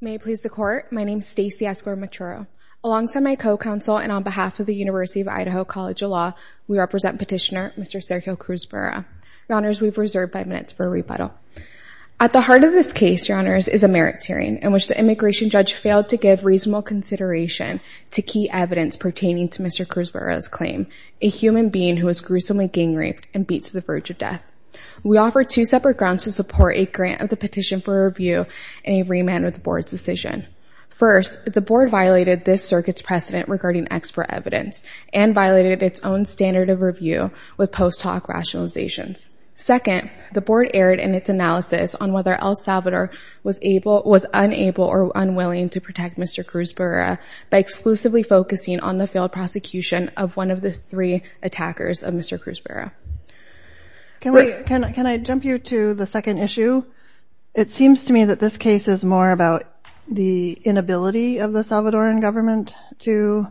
May it please the Court, my name is Stacey Escobar-Machuro. Alongside my co-counsel and on behalf of the University of Idaho College of Law, we represent petitioner Mr. Sergio Cruz Barrera. Your Honors, we've reserved five minutes for a rebuttal. At the heart of this case, Your Honors, is a merits hearing in which the immigration judge failed to give reasonable consideration to key evidence pertaining to Mr. Cruz Barrera's claim, a human being who was gruesomely gang-raped and beat to the verge of death. We offer two separate grounds to support a grant of the petition for review and a remand with the Board's decision. First, the Board violated this circuit's precedent regarding expert evidence and violated its own standard of review with post hoc rationalizations. Second, the Board erred in its analysis on whether El Salvador was unable or unwilling to protect Mr. Cruz Barrera by exclusively focusing on the failed prosecution of one of the three attackers of Mr. Cruz Barrera. Can I jump you to the second issue? It seems to me that this case is more about the inability of the Salvadoran government to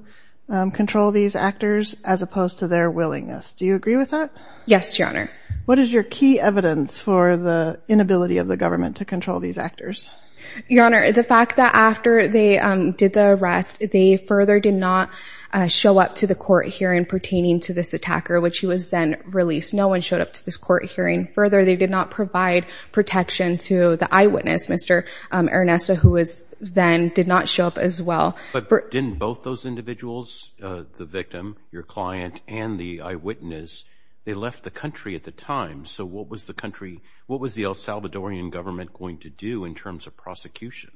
control these actors as opposed to their willingness. Do you agree with that? Yes, Your Honor. What is your key evidence for the inability of the government to control these actors? Your Honor, the fact that after they did the arrest, they further did not show up to the court hearing pertaining to this attacker, which he was then released. No one showed up to this court hearing. Further, they did not provide protection to the eyewitness, Mr. Ernesto, who then did not show up as well. But didn't both those individuals, the victim, your client, and the eyewitness, they left the country at the time? So what was the El Salvadoran government going to do in terms of prosecution?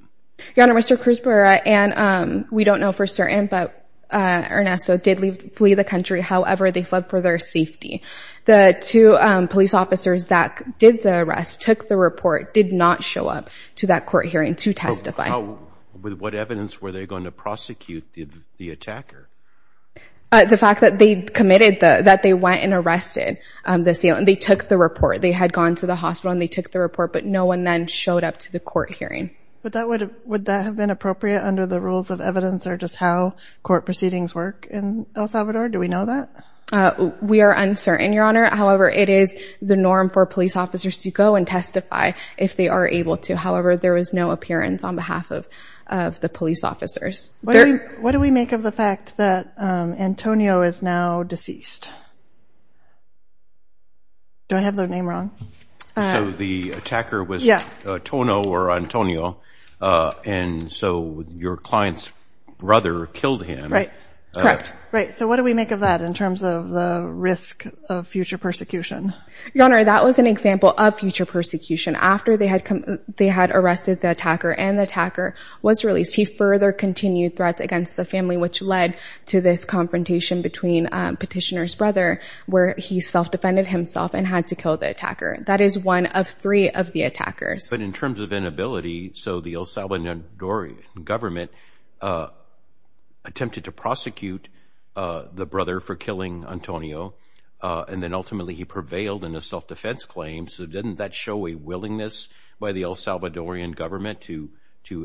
Your Honor, Mr. Cruz Barrera and we don't know for certain, but Ernesto did flee the country. However, they fled for their safety. The two police officers that did the arrest, took the report, did not show up to that court hearing to testify. With what evidence were they going to prosecute the attacker? The fact that they committed, that they went and arrested the sealant. They took the report. They had gone to the hospital and they took the report, but no one then showed up to the court hearing. Would that have been appropriate under the rules of evidence or just how court proceedings work in El Salvador? Do we know that? We are uncertain, Your Honor. However, it is the norm for police officers to go and testify if they are able to. However, there was no appearance on behalf of the police officers. What do we make of the fact that Antonio is now deceased? Do I have the name wrong? So the attacker was Tono or Antonio, and so your client's brother killed him. Correct. Right, so what do we make of that in terms of the risk of future persecution? Your Honor, that was an example of future persecution. After they had arrested the attacker and the attacker was released, he further continued threats against the family, which led to this confrontation between Petitioner's brother, where he self-defended himself and had to kill the attacker. That is one of three of the attackers. But in terms of inability, so the El Salvadorian government attempted to prosecute the brother for killing Antonio, and then ultimately he prevailed in a self-defense claim. So didn't that show a willingness by the El Salvadorian government to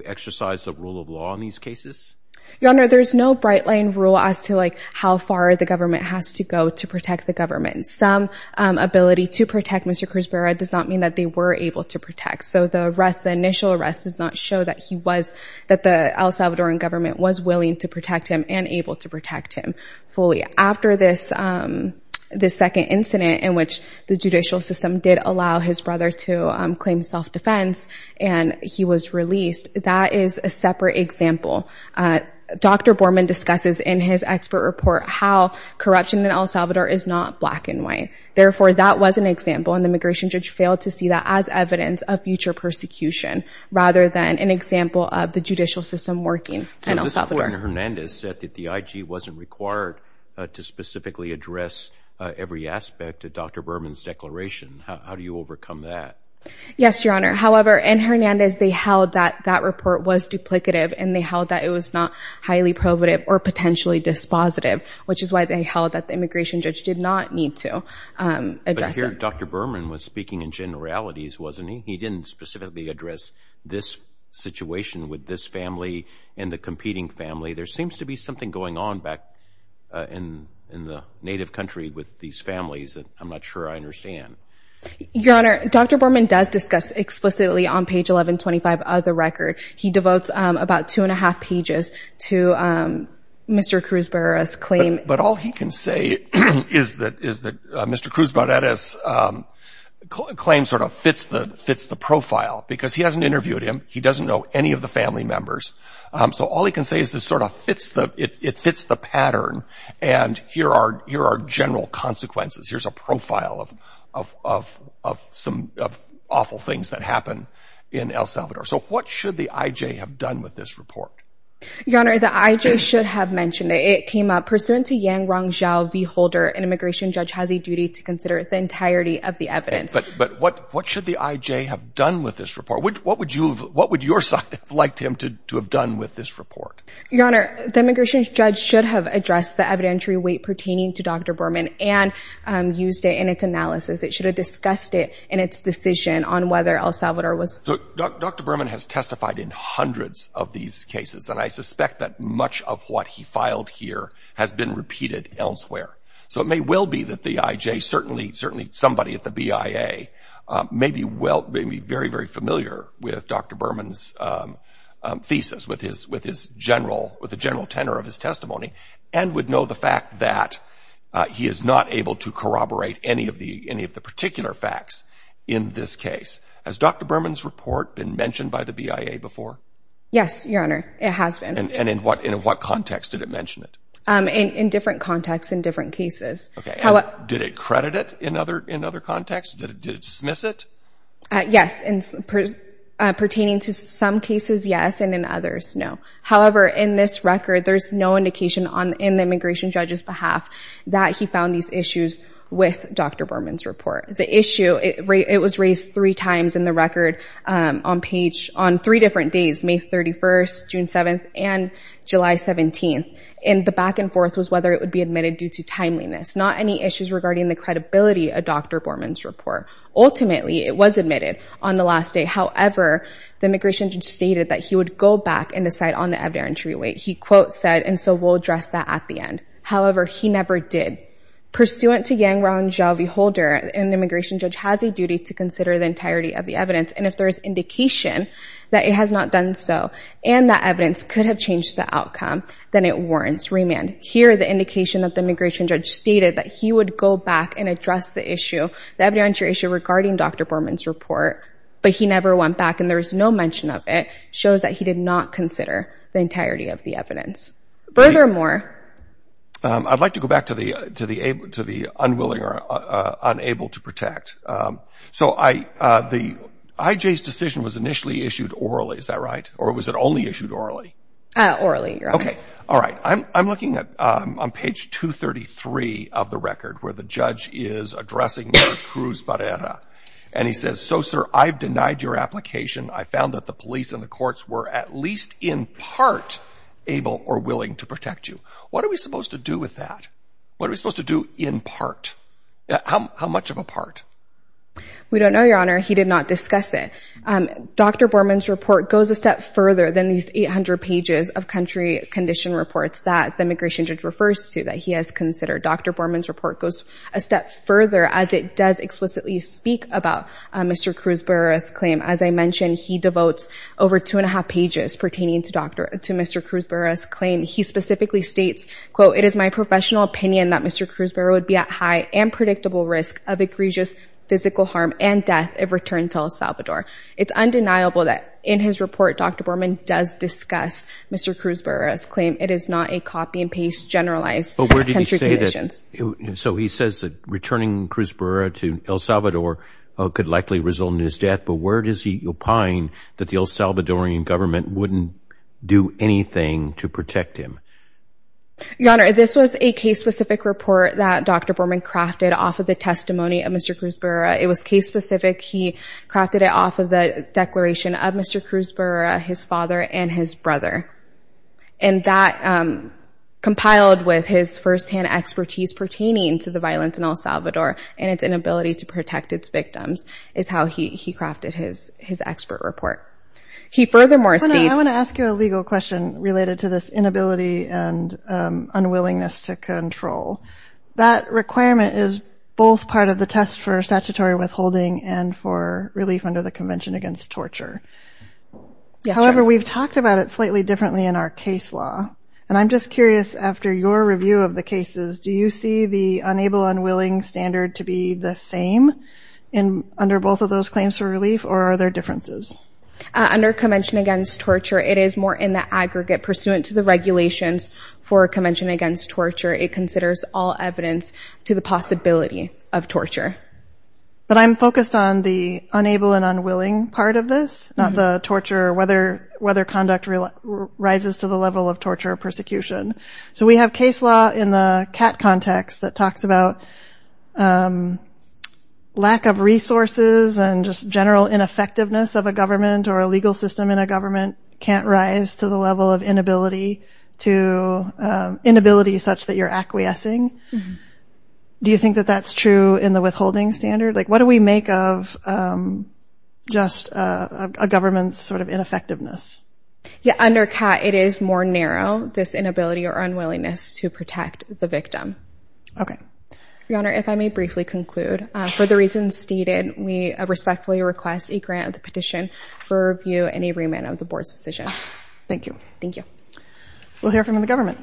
exercise the rule of law in these cases? Your Honor, there's no bright-line rule as to, like, how far the government has to go to protect the government. Some ability to protect Mr. Cuspera does not mean that they were able to protect. So the arrest, the initial arrest, does not show that he was, that the El Salvadorian government was willing to protect him and able to protect him fully. After this second incident in which the judicial system did allow his brother to claim self-defense and he was released, that is a separate example. Dr. Borman discusses in his expert report how corruption in El Salvador is not black and white. Therefore, that was an example, and the immigration judge failed to see that as evidence of future persecution rather than an example of the judicial system working in El Salvador. So this court in Hernandez said that the IG wasn't required to specifically address every aspect of Dr. Borman's declaration. How do you overcome that? Yes, Your Honor. However, in Hernandez they held that that report was duplicative and they held that it was not highly probative or potentially dispositive, which is why they held that the immigration judge did not need to address it. I hear Dr. Borman was speaking in generalities, wasn't he? He didn't specifically address this situation with this family and the competing family. There seems to be something going on back in the native country with these families that I'm not sure I understand. Your Honor, Dr. Borman does discuss explicitly on page 1125 of the record. He devotes about two and a half pages to Mr. Cruz Barreras' claim. But all he can say is that Mr. Cruz Barreras' claim sort of fits the profile because he hasn't interviewed him. He doesn't know any of the family members. So all he can say is it sort of fits the pattern and here are general consequences. Here's a profile of some awful things that happened in El Salvador. So what should the IJ have done with this report? Your Honor, the IJ should have mentioned it. It came up pursuant to Yang Rongzhao v. Holder, an immigration judge has a duty to consider the entirety of the evidence. But what should the IJ have done with this report? What would your side have liked him to have done with this report? Your Honor, the immigration judge should have addressed the evidentiary weight pertaining to Dr. Borman and used it in its analysis. It should have discussed it in its decision on whether El Salvador was. Dr. Borman has testified in hundreds of these cases, and I suspect that much of what he filed here has been repeated elsewhere. So it may well be that the IJ, certainly somebody at the BIA, may be very, very familiar with Dr. Borman's thesis, with the general tenor of his testimony, and would know the fact that he is not able to corroborate any of the particular facts in this case. Has Dr. Borman's report been mentioned by the BIA before? Yes, Your Honor, it has been. And in what context did it mention it? In different contexts, in different cases. Did it credit it in other contexts? Did it dismiss it? Yes, pertaining to some cases, yes, and in others, no. However, in this record, there's no indication in the immigration judge's behalf that he found these issues with Dr. Borman's report. The issue, it was raised three times in the record on three different days, May 31st, June 7th, and July 17th. And the back and forth was whether it would be admitted due to timeliness, not any issues regarding the credibility of Dr. Borman's report. Ultimately, it was admitted on the last day. However, the immigration judge stated that he would go back and decide on the evidentiary weight. He quote said, and so we'll address that at the end. However, he never did. Pursuant to Yang Rong Zhao v. Holder, an immigration judge has a duty to consider the entirety of the evidence, and if there is indication that it has not done so, and that evidence could have changed the outcome, then it warrants remand. Here, the indication that the immigration judge stated that he would go back and address the issue, the evidentiary issue regarding Dr. Borman's report, but he never went back, and there is no mention of it, shows that he did not consider the entirety of the evidence. Furthermore. I'd like to go back to the unwilling or unable to protect. So IJ's decision was initially issued orally. Is that right? Or was it only issued orally? Orally. Okay. All right. I'm looking at on page 233 of the record where the judge is addressing the Cruz Barrera, and he says, so, sir, I've denied your application. I found that the police and the courts were at least in part able or willing to protect you. What are we supposed to do with that? What are we supposed to do in part? How much of a part? We don't know, Your Honor. He did not discuss it. Dr. Borman's report goes a step further than these 800 pages of country condition reports that the immigration judge refers to that he has considered. Dr. Borman's report goes a step further as it does explicitly speak about Mr. Cruz Barrera's claim. As I mentioned, he devotes over two and a half pages pertaining to Mr. Cruz Barrera's claim. He specifically states, quote, it is my professional opinion that Mr. Cruz Barrera would be at high and predictable risk of egregious physical harm and death if returned to El It's undeniable that in his report Dr. Borman does discuss Mr. Cruz Barrera's claim. It is not a copy and paste generalized country conditions. So he says that returning Cruz Barrera to El Salvador could likely result in his death. But where does he opine that the El Salvadorian government wouldn't do anything to protect him? Your Honor, this was a case-specific report that Dr. Borman crafted off of the testimony of Mr. Cruz Barrera. It was case-specific. He crafted it off of the declaration of Mr. Cruz Barrera, his father, and his brother. And that compiled with his firsthand expertise pertaining to the violence in El Salvador. He crafted his expert report. He furthermore states. Your Honor, I want to ask you a legal question related to this inability and unwillingness to control. That requirement is both part of the test for statutory withholding and for relief under the Convention Against Torture. Yes, Your Honor. However, we've talked about it slightly differently in our case law. And I'm just curious, after your review of the cases, do you see the unable and unwilling standard to be the same under both of those claims for relief, or are there differences? Under Convention Against Torture, it is more in the aggregate. Pursuant to the regulations for Convention Against Torture, it considers all evidence to the possibility of torture. But I'm focused on the unable and unwilling part of this, not the torture or whether conduct rises to the level of torture or So we have case law in the CAT context that talks about lack of resources and just general ineffectiveness of a government or a legal system in a government can't rise to the level of inability, to inability such that you're acquiescing. Do you think that that's true in the withholding standard? Like what do we make of just a government's sort of ineffectiveness? Yeah, under CAT, it is more narrow, this inability or unwillingness to protect the victim. Okay. Your Honor, if I may briefly conclude. For the reasons stated, we respectfully request a grant of the petition for review and a remand of the board's decision. Thank you. Thank you. We'll hear from the government.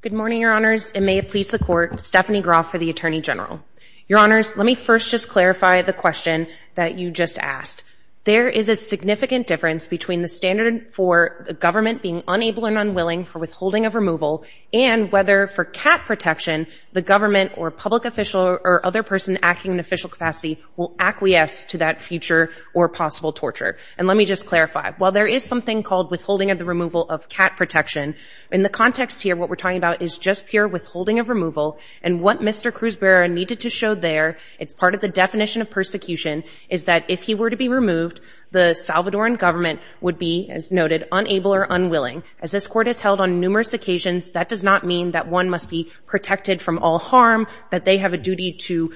Good morning, Your Honors. It may please the Court. Stephanie Groff for the Attorney General. Your Honors, let me first just clarify the question that you just asked. There is a significant difference between the standard for the government being unable and unwilling for withholding of removal and whether for CAT protection, the government or public official or other person acting in official capacity will acquiesce to that future or possible torture. And let me just clarify. While there is something called withholding of the removal of CAT protection, in the context here, what we're talking about is just pure withholding of removal. And what Mr. Cruz-Berra needed to show there, it's part of the definition of persecution, is that if he were to be removed, the Salvadoran government would be, as noted, unable or unwilling. As this Court has held on numerous occasions, that does not mean that one must be protected from all harm, that they have a duty to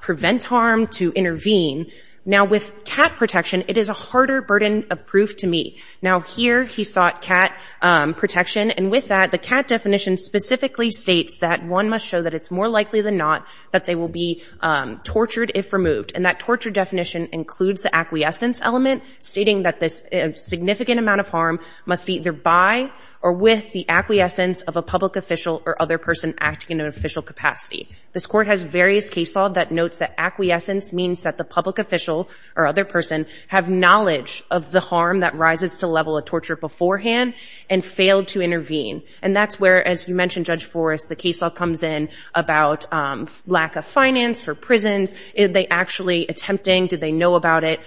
prevent harm, to intervene. Now, with CAT protection, it is a harder burden of proof to meet. Now, here he sought CAT protection, and with that, the CAT definition specifically states that one must show that it's more likely than not that they will be tortured if removed. And that torture definition includes the acquiescence element, stating that this significant amount of harm must be either by or with the acquiescence of a public official or other person acting in an official capacity. This Court has various case law that notes that acquiescence means that the public official or other person have knowledge of the harm that rises to level of torture beforehand and failed to intervene. And that's where, as you mentioned, Judge Forrest, the case law comes in about lack of finance for prisons. Are they actually attempting? Do they know about it?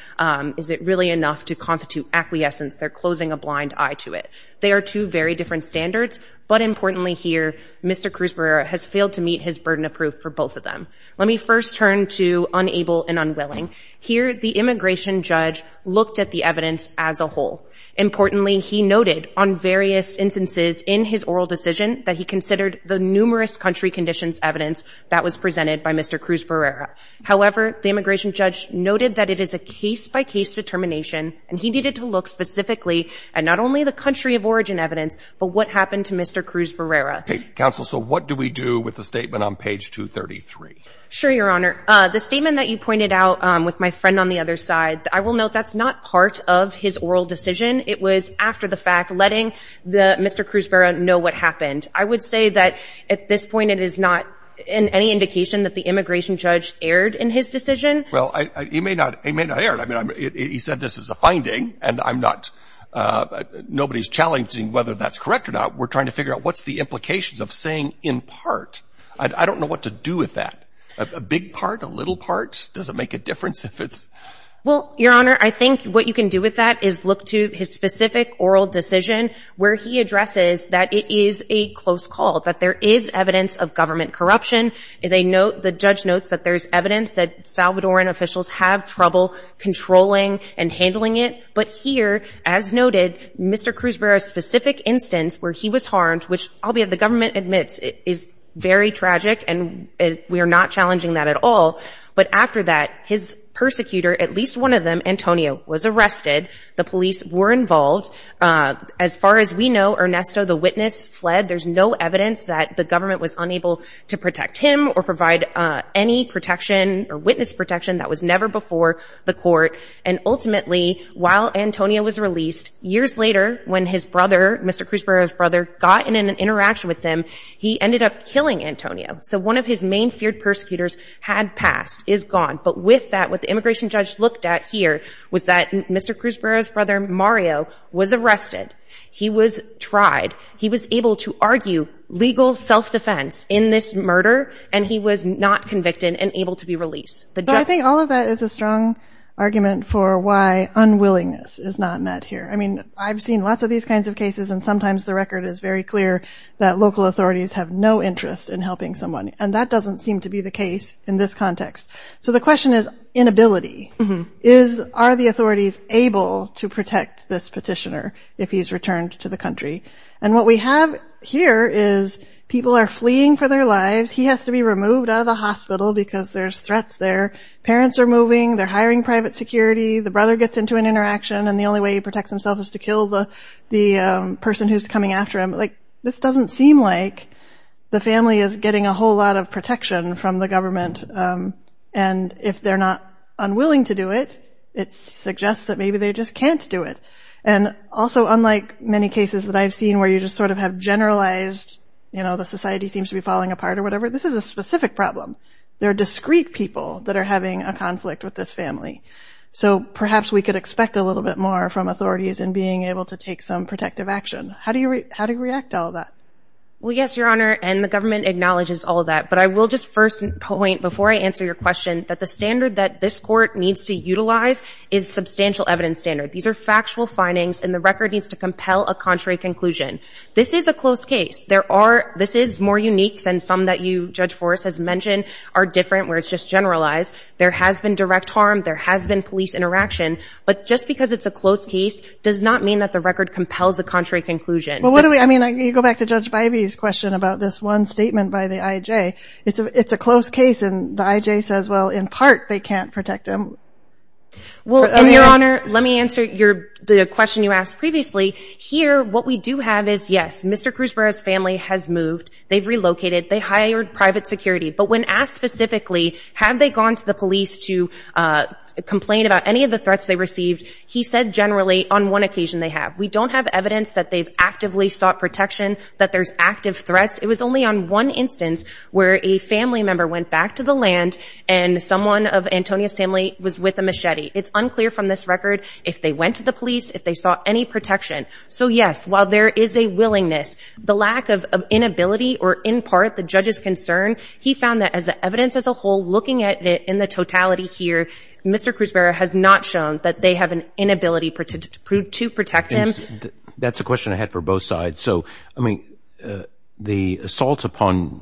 Is it really enough to constitute acquiescence? They're closing a blind eye to it. They are two very different standards, but importantly here, Mr. Cruz-Berrera has failed to meet his burden of proof for both of them. Let me first turn to unable and unwilling. Here the immigration judge looked at the evidence as a whole. Importantly, he noted on various instances in his oral decision that he considered the numerous country conditions evidence that was presented by Mr. Cruz-Berrera. However, the immigration judge noted that it is a case-by-case determination, and he needed to look specifically at not only the country of origin evidence, but what happened to Mr. Cruz-Berrera. Okay. Counsel, so what do we do with the statement on page 233? Sure, Your Honor. The statement that you pointed out with my friend on the other side, I will note that's not part of his oral decision. It was after the fact, letting the Mr. Cruz-Berrera know what happened. I would say that at this point, it is not in any indication that the immigration judge erred in his decision. Well, he may not, he may not err. I mean, he said this is a finding, and I'm not, nobody's challenging whether that's correct or not. We're trying to figure out what's the implications of saying in part. I don't know what to do with that. A big part, a little part, does it make a difference if it's? Well, Your Honor, I think what you can do with that is look to his specific oral decision where he addresses that it is a close call, that there is evidence of government corruption. The judge notes that there's evidence that Salvadoran officials have trouble controlling and handling it. But here, as noted, Mr. Cruz-Berrera's specific instance where he was harmed, which, albeit the government admits, is very tragic, and we are not challenging that at all. But after that, his persecutor, at least one of them, Antonio, was arrested. The police were involved. As far as we know, Ernesto, the witness, fled. There's no evidence that the government was unable to protect him or provide any protection or witness protection. That was never before the court. And ultimately, while Antonio was released, years later, when his brother, Mr. Cruz-Berrera's brother, got in an interaction with him, he ended up killing Antonio. So one of his main feared persecutors had passed, is gone. But with that, what the immigration judge looked at here was that Mr. Cruz-Berrera's brother, Mario, was arrested. He was tried. He was able to argue legal self-defense in this murder, and he was not convicted and able to be released. I think all of that is a strong argument for why unwillingness is not met here. I mean, I've seen lots of these kinds of cases, and sometimes the record is very clear that local authorities have no interest in helping someone. And that doesn't seem to be the case in this context. So the question is inability. Are the authorities able to protect this petitioner if he's returned to the country? And what we have here is people are fleeing for their lives. He has to be removed out of the hospital because there's threats there. Parents are moving. They're hiring private security. The brother gets into an interaction, and the only way he protects himself is to kill the person who's coming after him. Like, this doesn't seem like the family is getting a whole lot of protection from the government. And if they're not unwilling to do it, it suggests that maybe they just can't do it. And also unlike many cases that I've seen where you just sort of have generalized, you know, the society seems to be falling apart or whatever, this is a specific problem. There are discrete people that are having a conflict with this family. So perhaps we could expect a little bit more from authorities in being able to take some protective action. How do you react to all that? Well, yes, Your Honor, and the government acknowledges all of that. But I will just first point, before I answer your question, that the standard that this court needs to utilize is substantial evidence standard. These are factual findings, and the record needs to compel a contrary conclusion. This is a close case. There are – this is more unique than some that you, Judge Forrest, has mentioned are different where it's just generalized. There has been direct harm. There has been police interaction. But just because it's a close case does not mean that the record compels a contrary conclusion. Well, what do we – I mean, you go back to Judge Bybee's question about this one statement by the IJ. It's a close case, and the IJ says, well, in part, they can't protect him. Well, Your Honor, let me answer the question you asked previously. Here, what we do have is, yes, Mr. Cruz Barrera's family has moved. They've relocated. They hired private security. But when asked specifically, have they gone to the police to complain about any of the threats they received, he said, generally, on one occasion they have. We don't have evidence that they've actively sought protection, that there's active threats. It was only on one instance where a family member went back to the land and someone of Antonia's family was with a machete. It's unclear from this record if they went to the police, if they sought any protection. So, yes, while there is a willingness, the lack of inability or, in part, the judge's concern, he found that as the evidence as a whole, looking at it in the totality here, Mr. Cruz Barrera has not shown that they have an inability to protect him. That's a question I had for both sides. So, I mean, the assault upon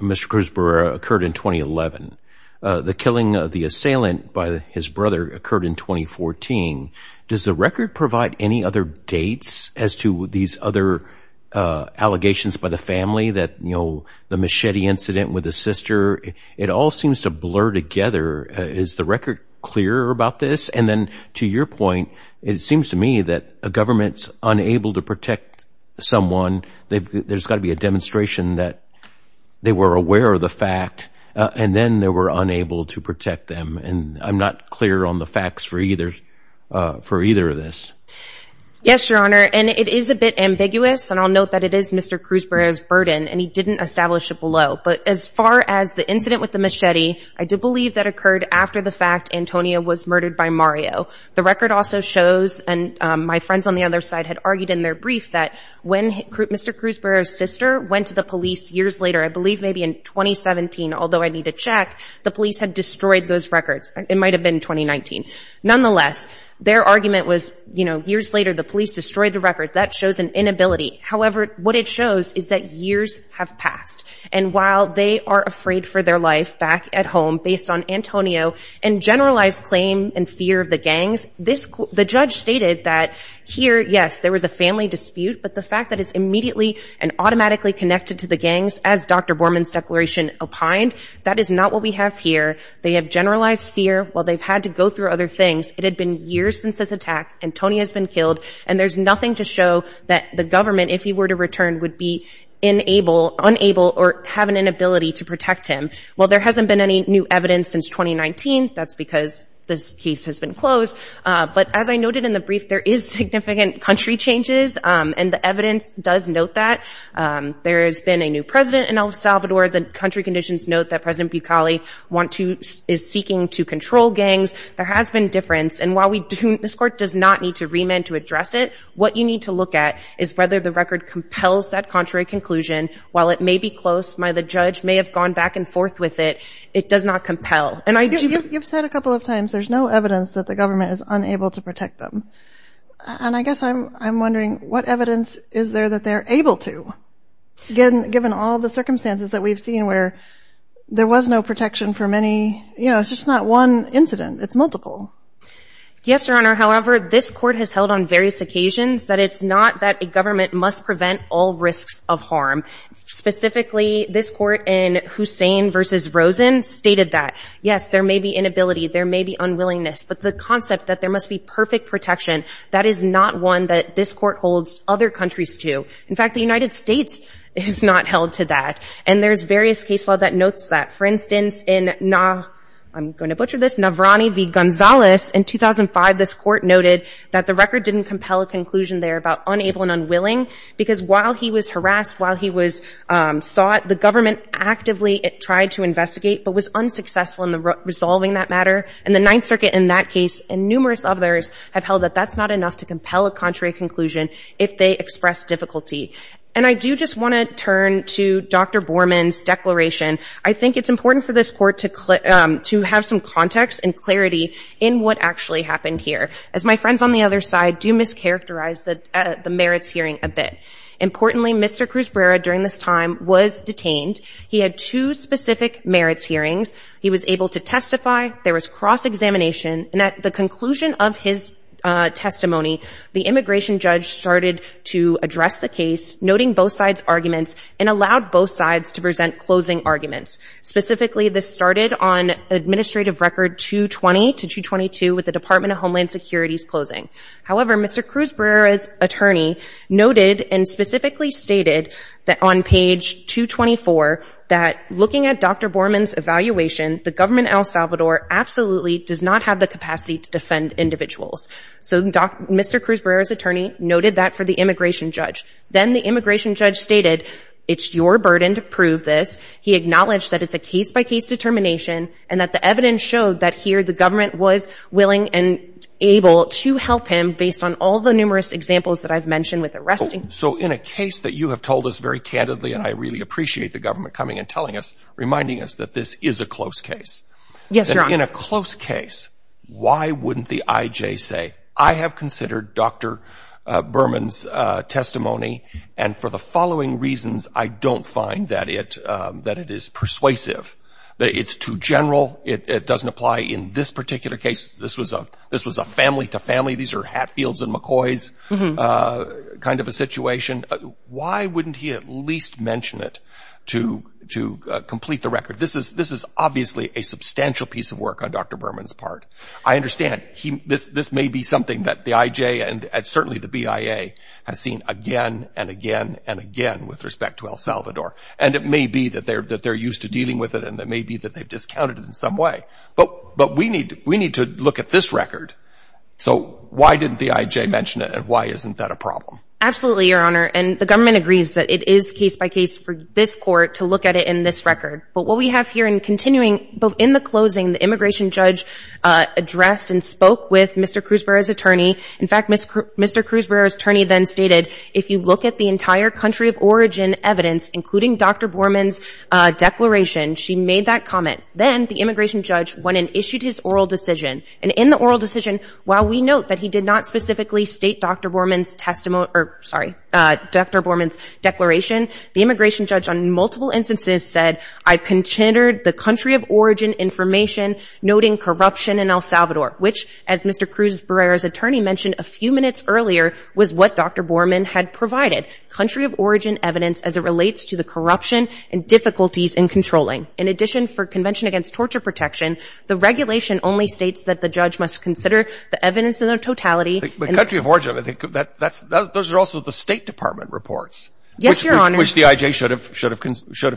Mr. Cruz Barrera occurred in 2011. The killing of the assailant by his brother occurred in 2014. Does the record provide any other dates as to these other allegations by the family that, you know, the machete incident with his sister? It all seems to blur together. Is the record clear about this? And then, to your point, it seems to me that a government's unable to protect someone, there's got to be a demonstration that they were aware of the fact, and then they were unable to protect them. And I'm not clear on the facts for either of this. Yes, Your Honor, and it is a bit ambiguous, and I'll note that it is Mr. Cruz Barrera's burden, and he didn't establish it below. But as far as the incident with the machete, I do believe that occurred after the fact Antonio was murdered by Mario. The record also shows, and my friends on the other side had argued in their brief, that when Mr. Cruz Barrera's sister went to the police years later, I believe maybe in 2017, although I need to check, the police had destroyed those records. It might have been 2019. Nonetheless, their argument was, you know, years later, the police destroyed the record. That shows an inability. However, what it shows is that years have passed. And while they are afraid for their life back at home based on Antonio and generalized claim and fear of the gangs, the judge stated that here, yes, there was a family dispute, but the fact that it's immediately and automatically connected to the gangs, as Dr. Borman's declaration opined, that is not what we have here. They have generalized fear. Well, they've had to go through other things. It had been years since this attack. Antonio has been killed. And there's nothing to show that the government, if he were to return, would be unable or have an inability to protect him. Well, there hasn't been any new evidence since 2019. That's because this case has been closed. But as I noted in the brief, there is significant country changes. And the evidence does note that. There has been a new president in El Salvador. The country conditions note that President Bukali is seeking to control gangs. There has been difference. And while this court does not need to remand to address it, what you need to look at is whether the record compels that contrary conclusion. While it may be close, the judge may have gone back and forth with it, it does not compel. You've said a couple of times there's no evidence that the government is unable to protect them. And I guess I'm wondering what evidence is there that they're able to, given all the circumstances that we've seen where there was no protection for many, you know, it's just not one incident. It's multiple. Yes, Your Honor. However, this court has held on various occasions that it's not that a government must prevent all risks of harm. Specifically, this court in Hussein versus Rosen stated that, yes, there may be inability, there may be unwillingness. But the concept that there must be perfect protection, that is not one that this court holds other countries to. In fact, the United States is not held to that. And there's various case law that notes that. For instance, in, I'm going to butcher this, Navrani v. Gonzalez in 2005, this court noted that the record didn't compel a conclusion there about unable and unwilling, because while he was harassed, while he was sought, the government actively tried to investigate, but was unsuccessful in resolving that matter. And the Ninth Circuit in that case and numerous others have held that that's not enough to compel a contrary conclusion if they express difficulty. And I do just want to turn to Dr. Borman's declaration. I think it's important for this court to have some context and clarity in what actually happened here, as my friends on the other side do mischaracterize the merits hearing a bit. Importantly, Mr. Cruz Brera during this time was detained. He had two specific merits hearings. He was able to testify. There was cross-examination. And at the conclusion of his testimony, the immigration judge started to address the case, noting both sides' arguments, and allowed both sides to present closing arguments. Specifically, this started on Administrative Record 220 to 222 with the Department of Homeland Security's closing. However, Mr. Cruz Brera's attorney noted and specifically stated that on page 224 that looking at Dr. Borman's evaluation, the government in El Salvador absolutely does not have the capacity to defend individuals. So Mr. Cruz Brera's attorney noted that for the immigration judge. Then the immigration judge stated, it's your burden to prove this. He acknowledged that it's a case-by-case determination and that the evidence showed that here the government was willing and able to help him based on all the numerous examples that I've mentioned with arresting. So in a case that you have told us very candidly, and I really appreciate the government coming and telling us, reminding us that this is a close case. Yes, Your Honor. In a close case, why wouldn't the IJ say, I have considered Dr. Borman's testimony, and for the following reasons I don't find that it is persuasive. It's too general. It doesn't apply in this particular case. This was a family-to-family. These are Hatfields and McCoys kind of a situation. Why wouldn't he at least mention it to complete the record? This is obviously a substantial piece of work on Dr. Borman's part. I understand. This may be something that the IJ and certainly the BIA has seen again and again and again with respect to El Salvador. And it may be that they're used to dealing with it, and it may be that they've discounted it in some way. But we need to look at this record. So why didn't the IJ mention it, and why isn't that a problem? Absolutely, Your Honor. And the government agrees that it is case-by-case for this court to look at it in this record. But what we have here in continuing in the closing, the immigration judge addressed and spoke with Mr. Cruzbearer's attorney. In fact, Mr. Cruzbearer's attorney then stated, if you look at the entire country of origin evidence, including Dr. Borman's declaration, she made that comment. Then the immigration judge went and issued his oral decision. And in the oral decision, while we note that he did not specifically state Dr. Borman's testimony or, sorry, Dr. Borman's declaration, the immigration judge on multiple instances said, I've considered the country of origin information noting corruption in El Salvador, which, as Mr. Cruzbearer's attorney mentioned a few minutes earlier, was what Dr. Borman had provided, country of origin evidence as it relates to the corruption and difficulties in controlling. In addition, for Convention Against Torture Protection, the regulation only states that the judge must consider the evidence in their totality. But country of origin, those are also the State Department reports. Yes, Your Honor. Which the I.J. should have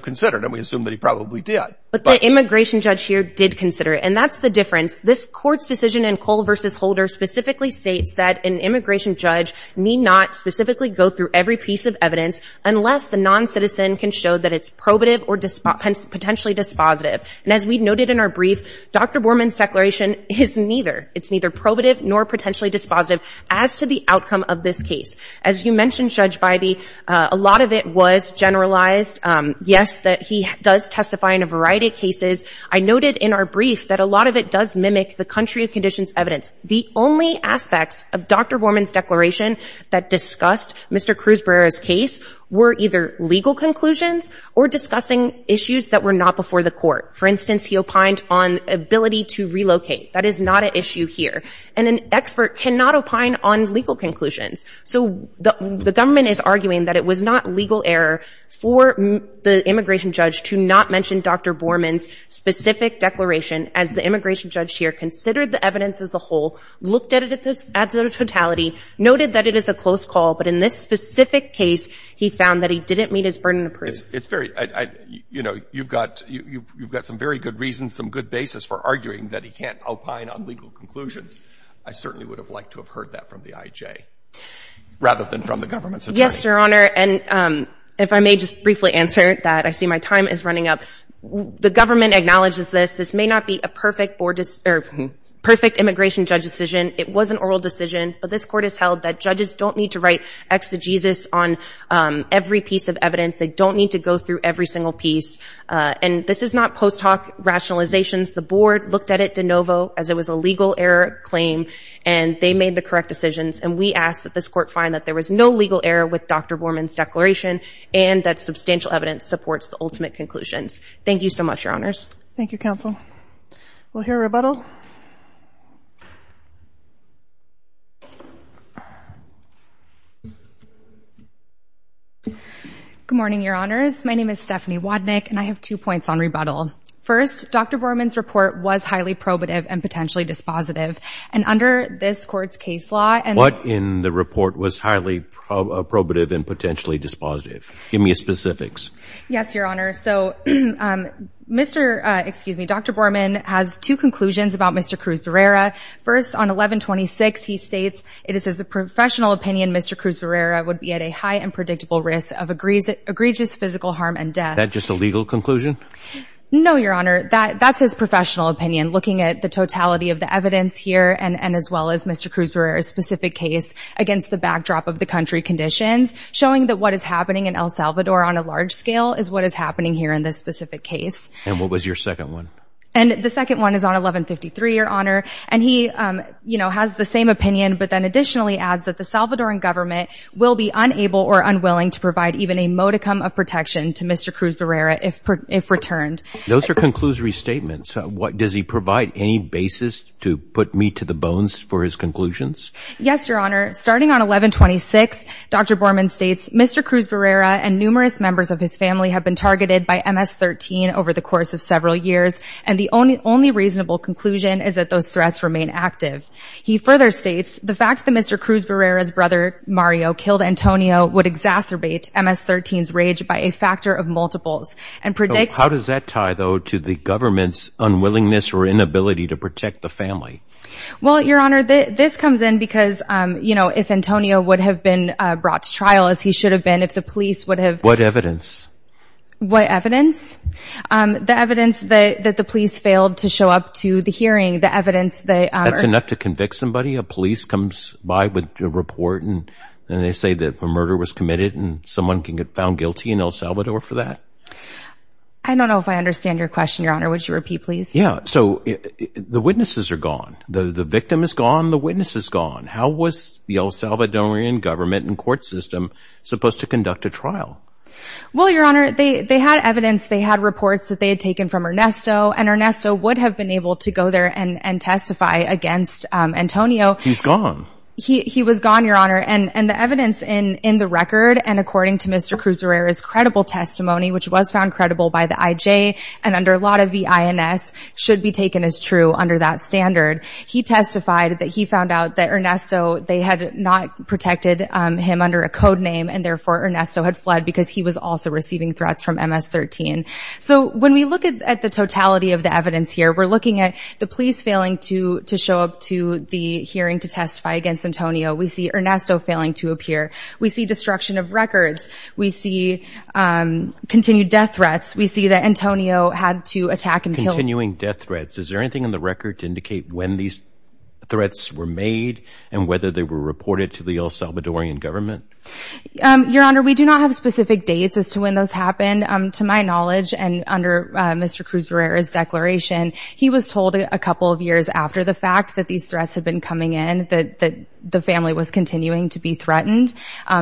considered. And we assume that he probably did. But the immigration judge here did consider it. And that's the difference. This Court's decision in Cole v. Holder specifically states that an immigration judge need not specifically go through every piece of evidence unless a noncitizen can show that it's probative or potentially dispositive. And as we noted in our brief, Dr. Borman's declaration is neither. It's neither probative nor potentially dispositive as to the outcome of this case. As you mentioned, Judge Bybee, a lot of it was generalized. Yes, that he does testify in a variety of cases. I noted in our brief that a lot of it does mimic the country of conditions evidence. The only aspects of Dr. Borman's declaration that discussed Mr. Cruzbearer's case were either legal conclusions or discussing issues that were not before the court. For instance, he opined on ability to relocate. That is not an issue here. And an expert cannot opine on legal conclusions. So the government is arguing that it was not legal error for the immigration judge to not mention Dr. Borman's specific declaration as the immigration judge here considered the evidence as a whole, looked at it at the totality, noted that it is a close call, but in this specific case, he found that he didn't meet his burden of proof. It's very — you know, you've got some very good reasons, some good basis for arguing that he can't opine on legal conclusions. I certainly would have liked to have heard that from the I.J. rather than from the government's attorney. Yes, Your Honor. And if I may just briefly answer that. I see my time is running up. The government acknowledges this. This may not be a perfect board — or perfect immigration judge decision. It was an oral decision. But this court has held that judges don't need to write exegesis on every piece of evidence. They don't need to go through every single piece. And this is not post hoc rationalizations. The board looked at it de novo as it was a legal error claim, and they made the correct decisions. And we ask that this court find that there was no legal error with Dr. Borman's declaration and that substantial evidence supports the ultimate conclusions. Thank you so much, Your Honors. Thank you, Counsel. We'll hear a rebuttal. Good morning, Your Honors. My name is Stephanie Wodnick, and I have two points on rebuttal. First, Dr. Borman's report was highly probative and potentially dispositive. And under this court's case law — What in the report was highly probative and potentially dispositive? Give me specifics. Yes, Your Honor. So, Mr. — excuse me, Dr. Borman has two conclusions about Mr. Cruz-Berrera. First, on 1126, he states, it is his professional opinion Mr. Cruz-Berrera would be at a high and predictable risk of egregious physical harm and death. Is that just a legal conclusion? No, Your Honor. That's his professional opinion. Looking at the totality of the evidence here and as well as Mr. Cruz-Berrera's specific case against the backdrop of the country conditions, showing that what is happening in El Salvador on a large scale is what is happening here in this specific case. And what was your second one? And the second one is on 1153, Your Honor. And he, you know, has the same opinion, but then additionally adds that the Salvadoran government will be unable or unwilling to provide even a modicum of protection to Mr. Cruz-Berrera if returned. Those are conclusory statements. Does he provide any basis to put me to the bones for his conclusions? Yes, Your Honor. Starting on 1126, Dr. Borman states, Mr. Cruz-Berrera and numerous members of his family have been targeted by MS-13 over the course of several years, and the only reasonable conclusion is that those threats remain active. He further states, the fact that Mr. Cruz-Berrera's brother Mario killed Antonio would exacerbate MS-13's rage by a factor of multiples and predicts How does that tie, though, to the government's unwillingness or inability to protect the family? Well, Your Honor, this comes in because, you know, if Antonio would have been brought to trial as he should have been, if the police would have What evidence? What evidence? The evidence that the police failed to show up to the hearing, the evidence that That's enough to convict somebody? A police comes by with a report and they say that a murder was committed and someone can get found guilty in El Salvador for that? I don't know if I understand your question, Your Honor. Would you repeat, please? Yeah, so the witnesses are gone. The victim is gone, the witness is gone. How was the El Salvadorian government and court system supposed to conduct a trial? Well, Your Honor, they had evidence, they had reports that they had taken from Ernesto and Ernesto would have been able to go there and testify against Antonio He's gone. He was gone, Your Honor, and the evidence in the record and according to Mr. Cruz-Berrera's credible testimony, which was found credible by the IJ and under a lot of the INS should be taken as true under that standard. He testified that he found out that Ernesto they had not protected him under a code name and therefore Ernesto had fled because he was also receiving threats from MS-13. So when we look at the totality of the evidence here, we're looking at the police failing to to show up to the hearing to testify against Antonio. We see Ernesto failing to appear. We see destruction of records. We see continued death threats. We see that Antonio had to attack and kill. Continuing death threats. Is there anything in the record to indicate when these threats were made and whether they were reported to the El Salvadorian government? Your Honor, we do not have specific dates as to when those happened. To my knowledge and under Mr. Cruz-Berrera's declaration, he was told a couple of years after the fact that these threats had been coming in that the family was continuing to be threatened.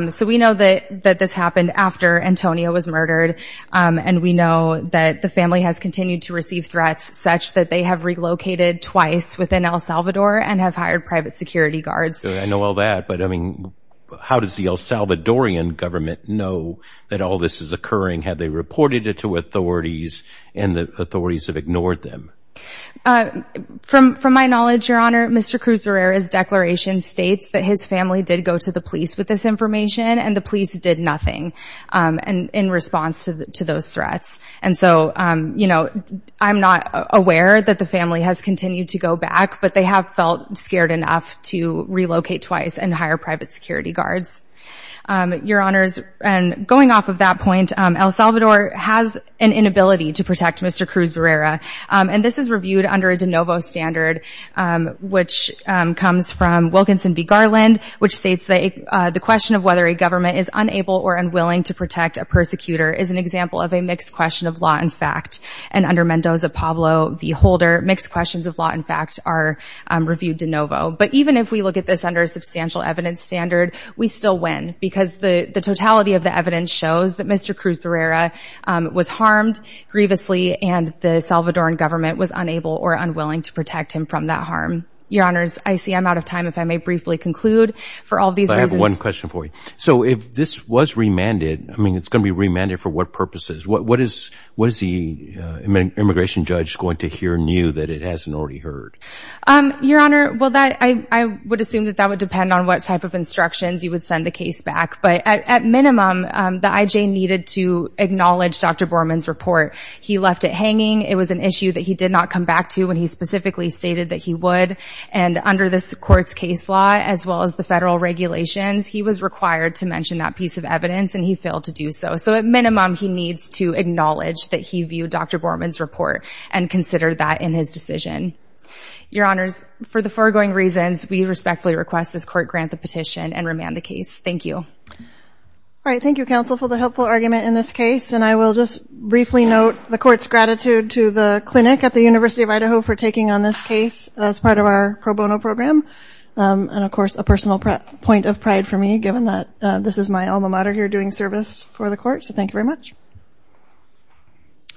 So we know that this happened after Antonio was murdered. And we know that the family has continued to receive threats such that they have relocated twice within El Salvador and have hired private security guards. I know all that, but I mean, how does the El Salvadorian government know that all this is occurring? Have they reported it to authorities and the authorities have ignored them? From my knowledge, Your Honor, Mr. Cruz-Berrera's declaration states that his family did go to the police with this information and the police did nothing in response to those threats. And so, you know, I'm not aware that the family has continued to go back, but they have felt scared enough to relocate twice and hire private security guards. Your Honors, going off of that point, El Salvador has an inability to protect Mr. Cruz-Berrera. And this is reviewed under a de novo standard, which comes from Wilkinson v. Garland, which states that the question of whether a government is unable or unwilling to protect a persecutor is an example of a mixed question of law and fact. And under Mendoza-Pablo v. Holder, mixed questions of law and fact are reviewed de novo. But even if we look at this under a substantial evidence standard, we still win because the totality of the evidence shows that Mr. Cruz-Berrera was harmed grievously and the Salvadoran government was unable or unwilling to protect him from that harm. Your Honors, I see I'm out of time. If I may briefly conclude for all these reasons. I have one question for you. So if this was remanded, I mean, it's going to be remanded for what purposes? What is the immigration judge going to hear new that it hasn't already heard? Your Honor, well, I would assume that that would depend on what type of instructions you would send the case back. But at minimum, the IJ needed to acknowledge Dr. Borman's report. He left it hanging. It was an issue that he did not come back to when he specifically stated that he would. And under this Court's case law, as well as the federal regulations, he was required to mention that piece of evidence, and he failed to do so. So at minimum, he needs to acknowledge that he viewed Dr. Borman's report and considered that in his decision. Your Honors, for the foregoing reasons, we respectfully request this Court grant the petition and remand the case. Thank you. All right, thank you, Counsel, for the helpful argument in this case. And I will just briefly note the Court's gratitude to the clinic at the University of Idaho for taking on this case as part of our pro bono program, and, of course, a personal point of pride for me, given that this is my alma mater here doing service for the Court. So thank you very much.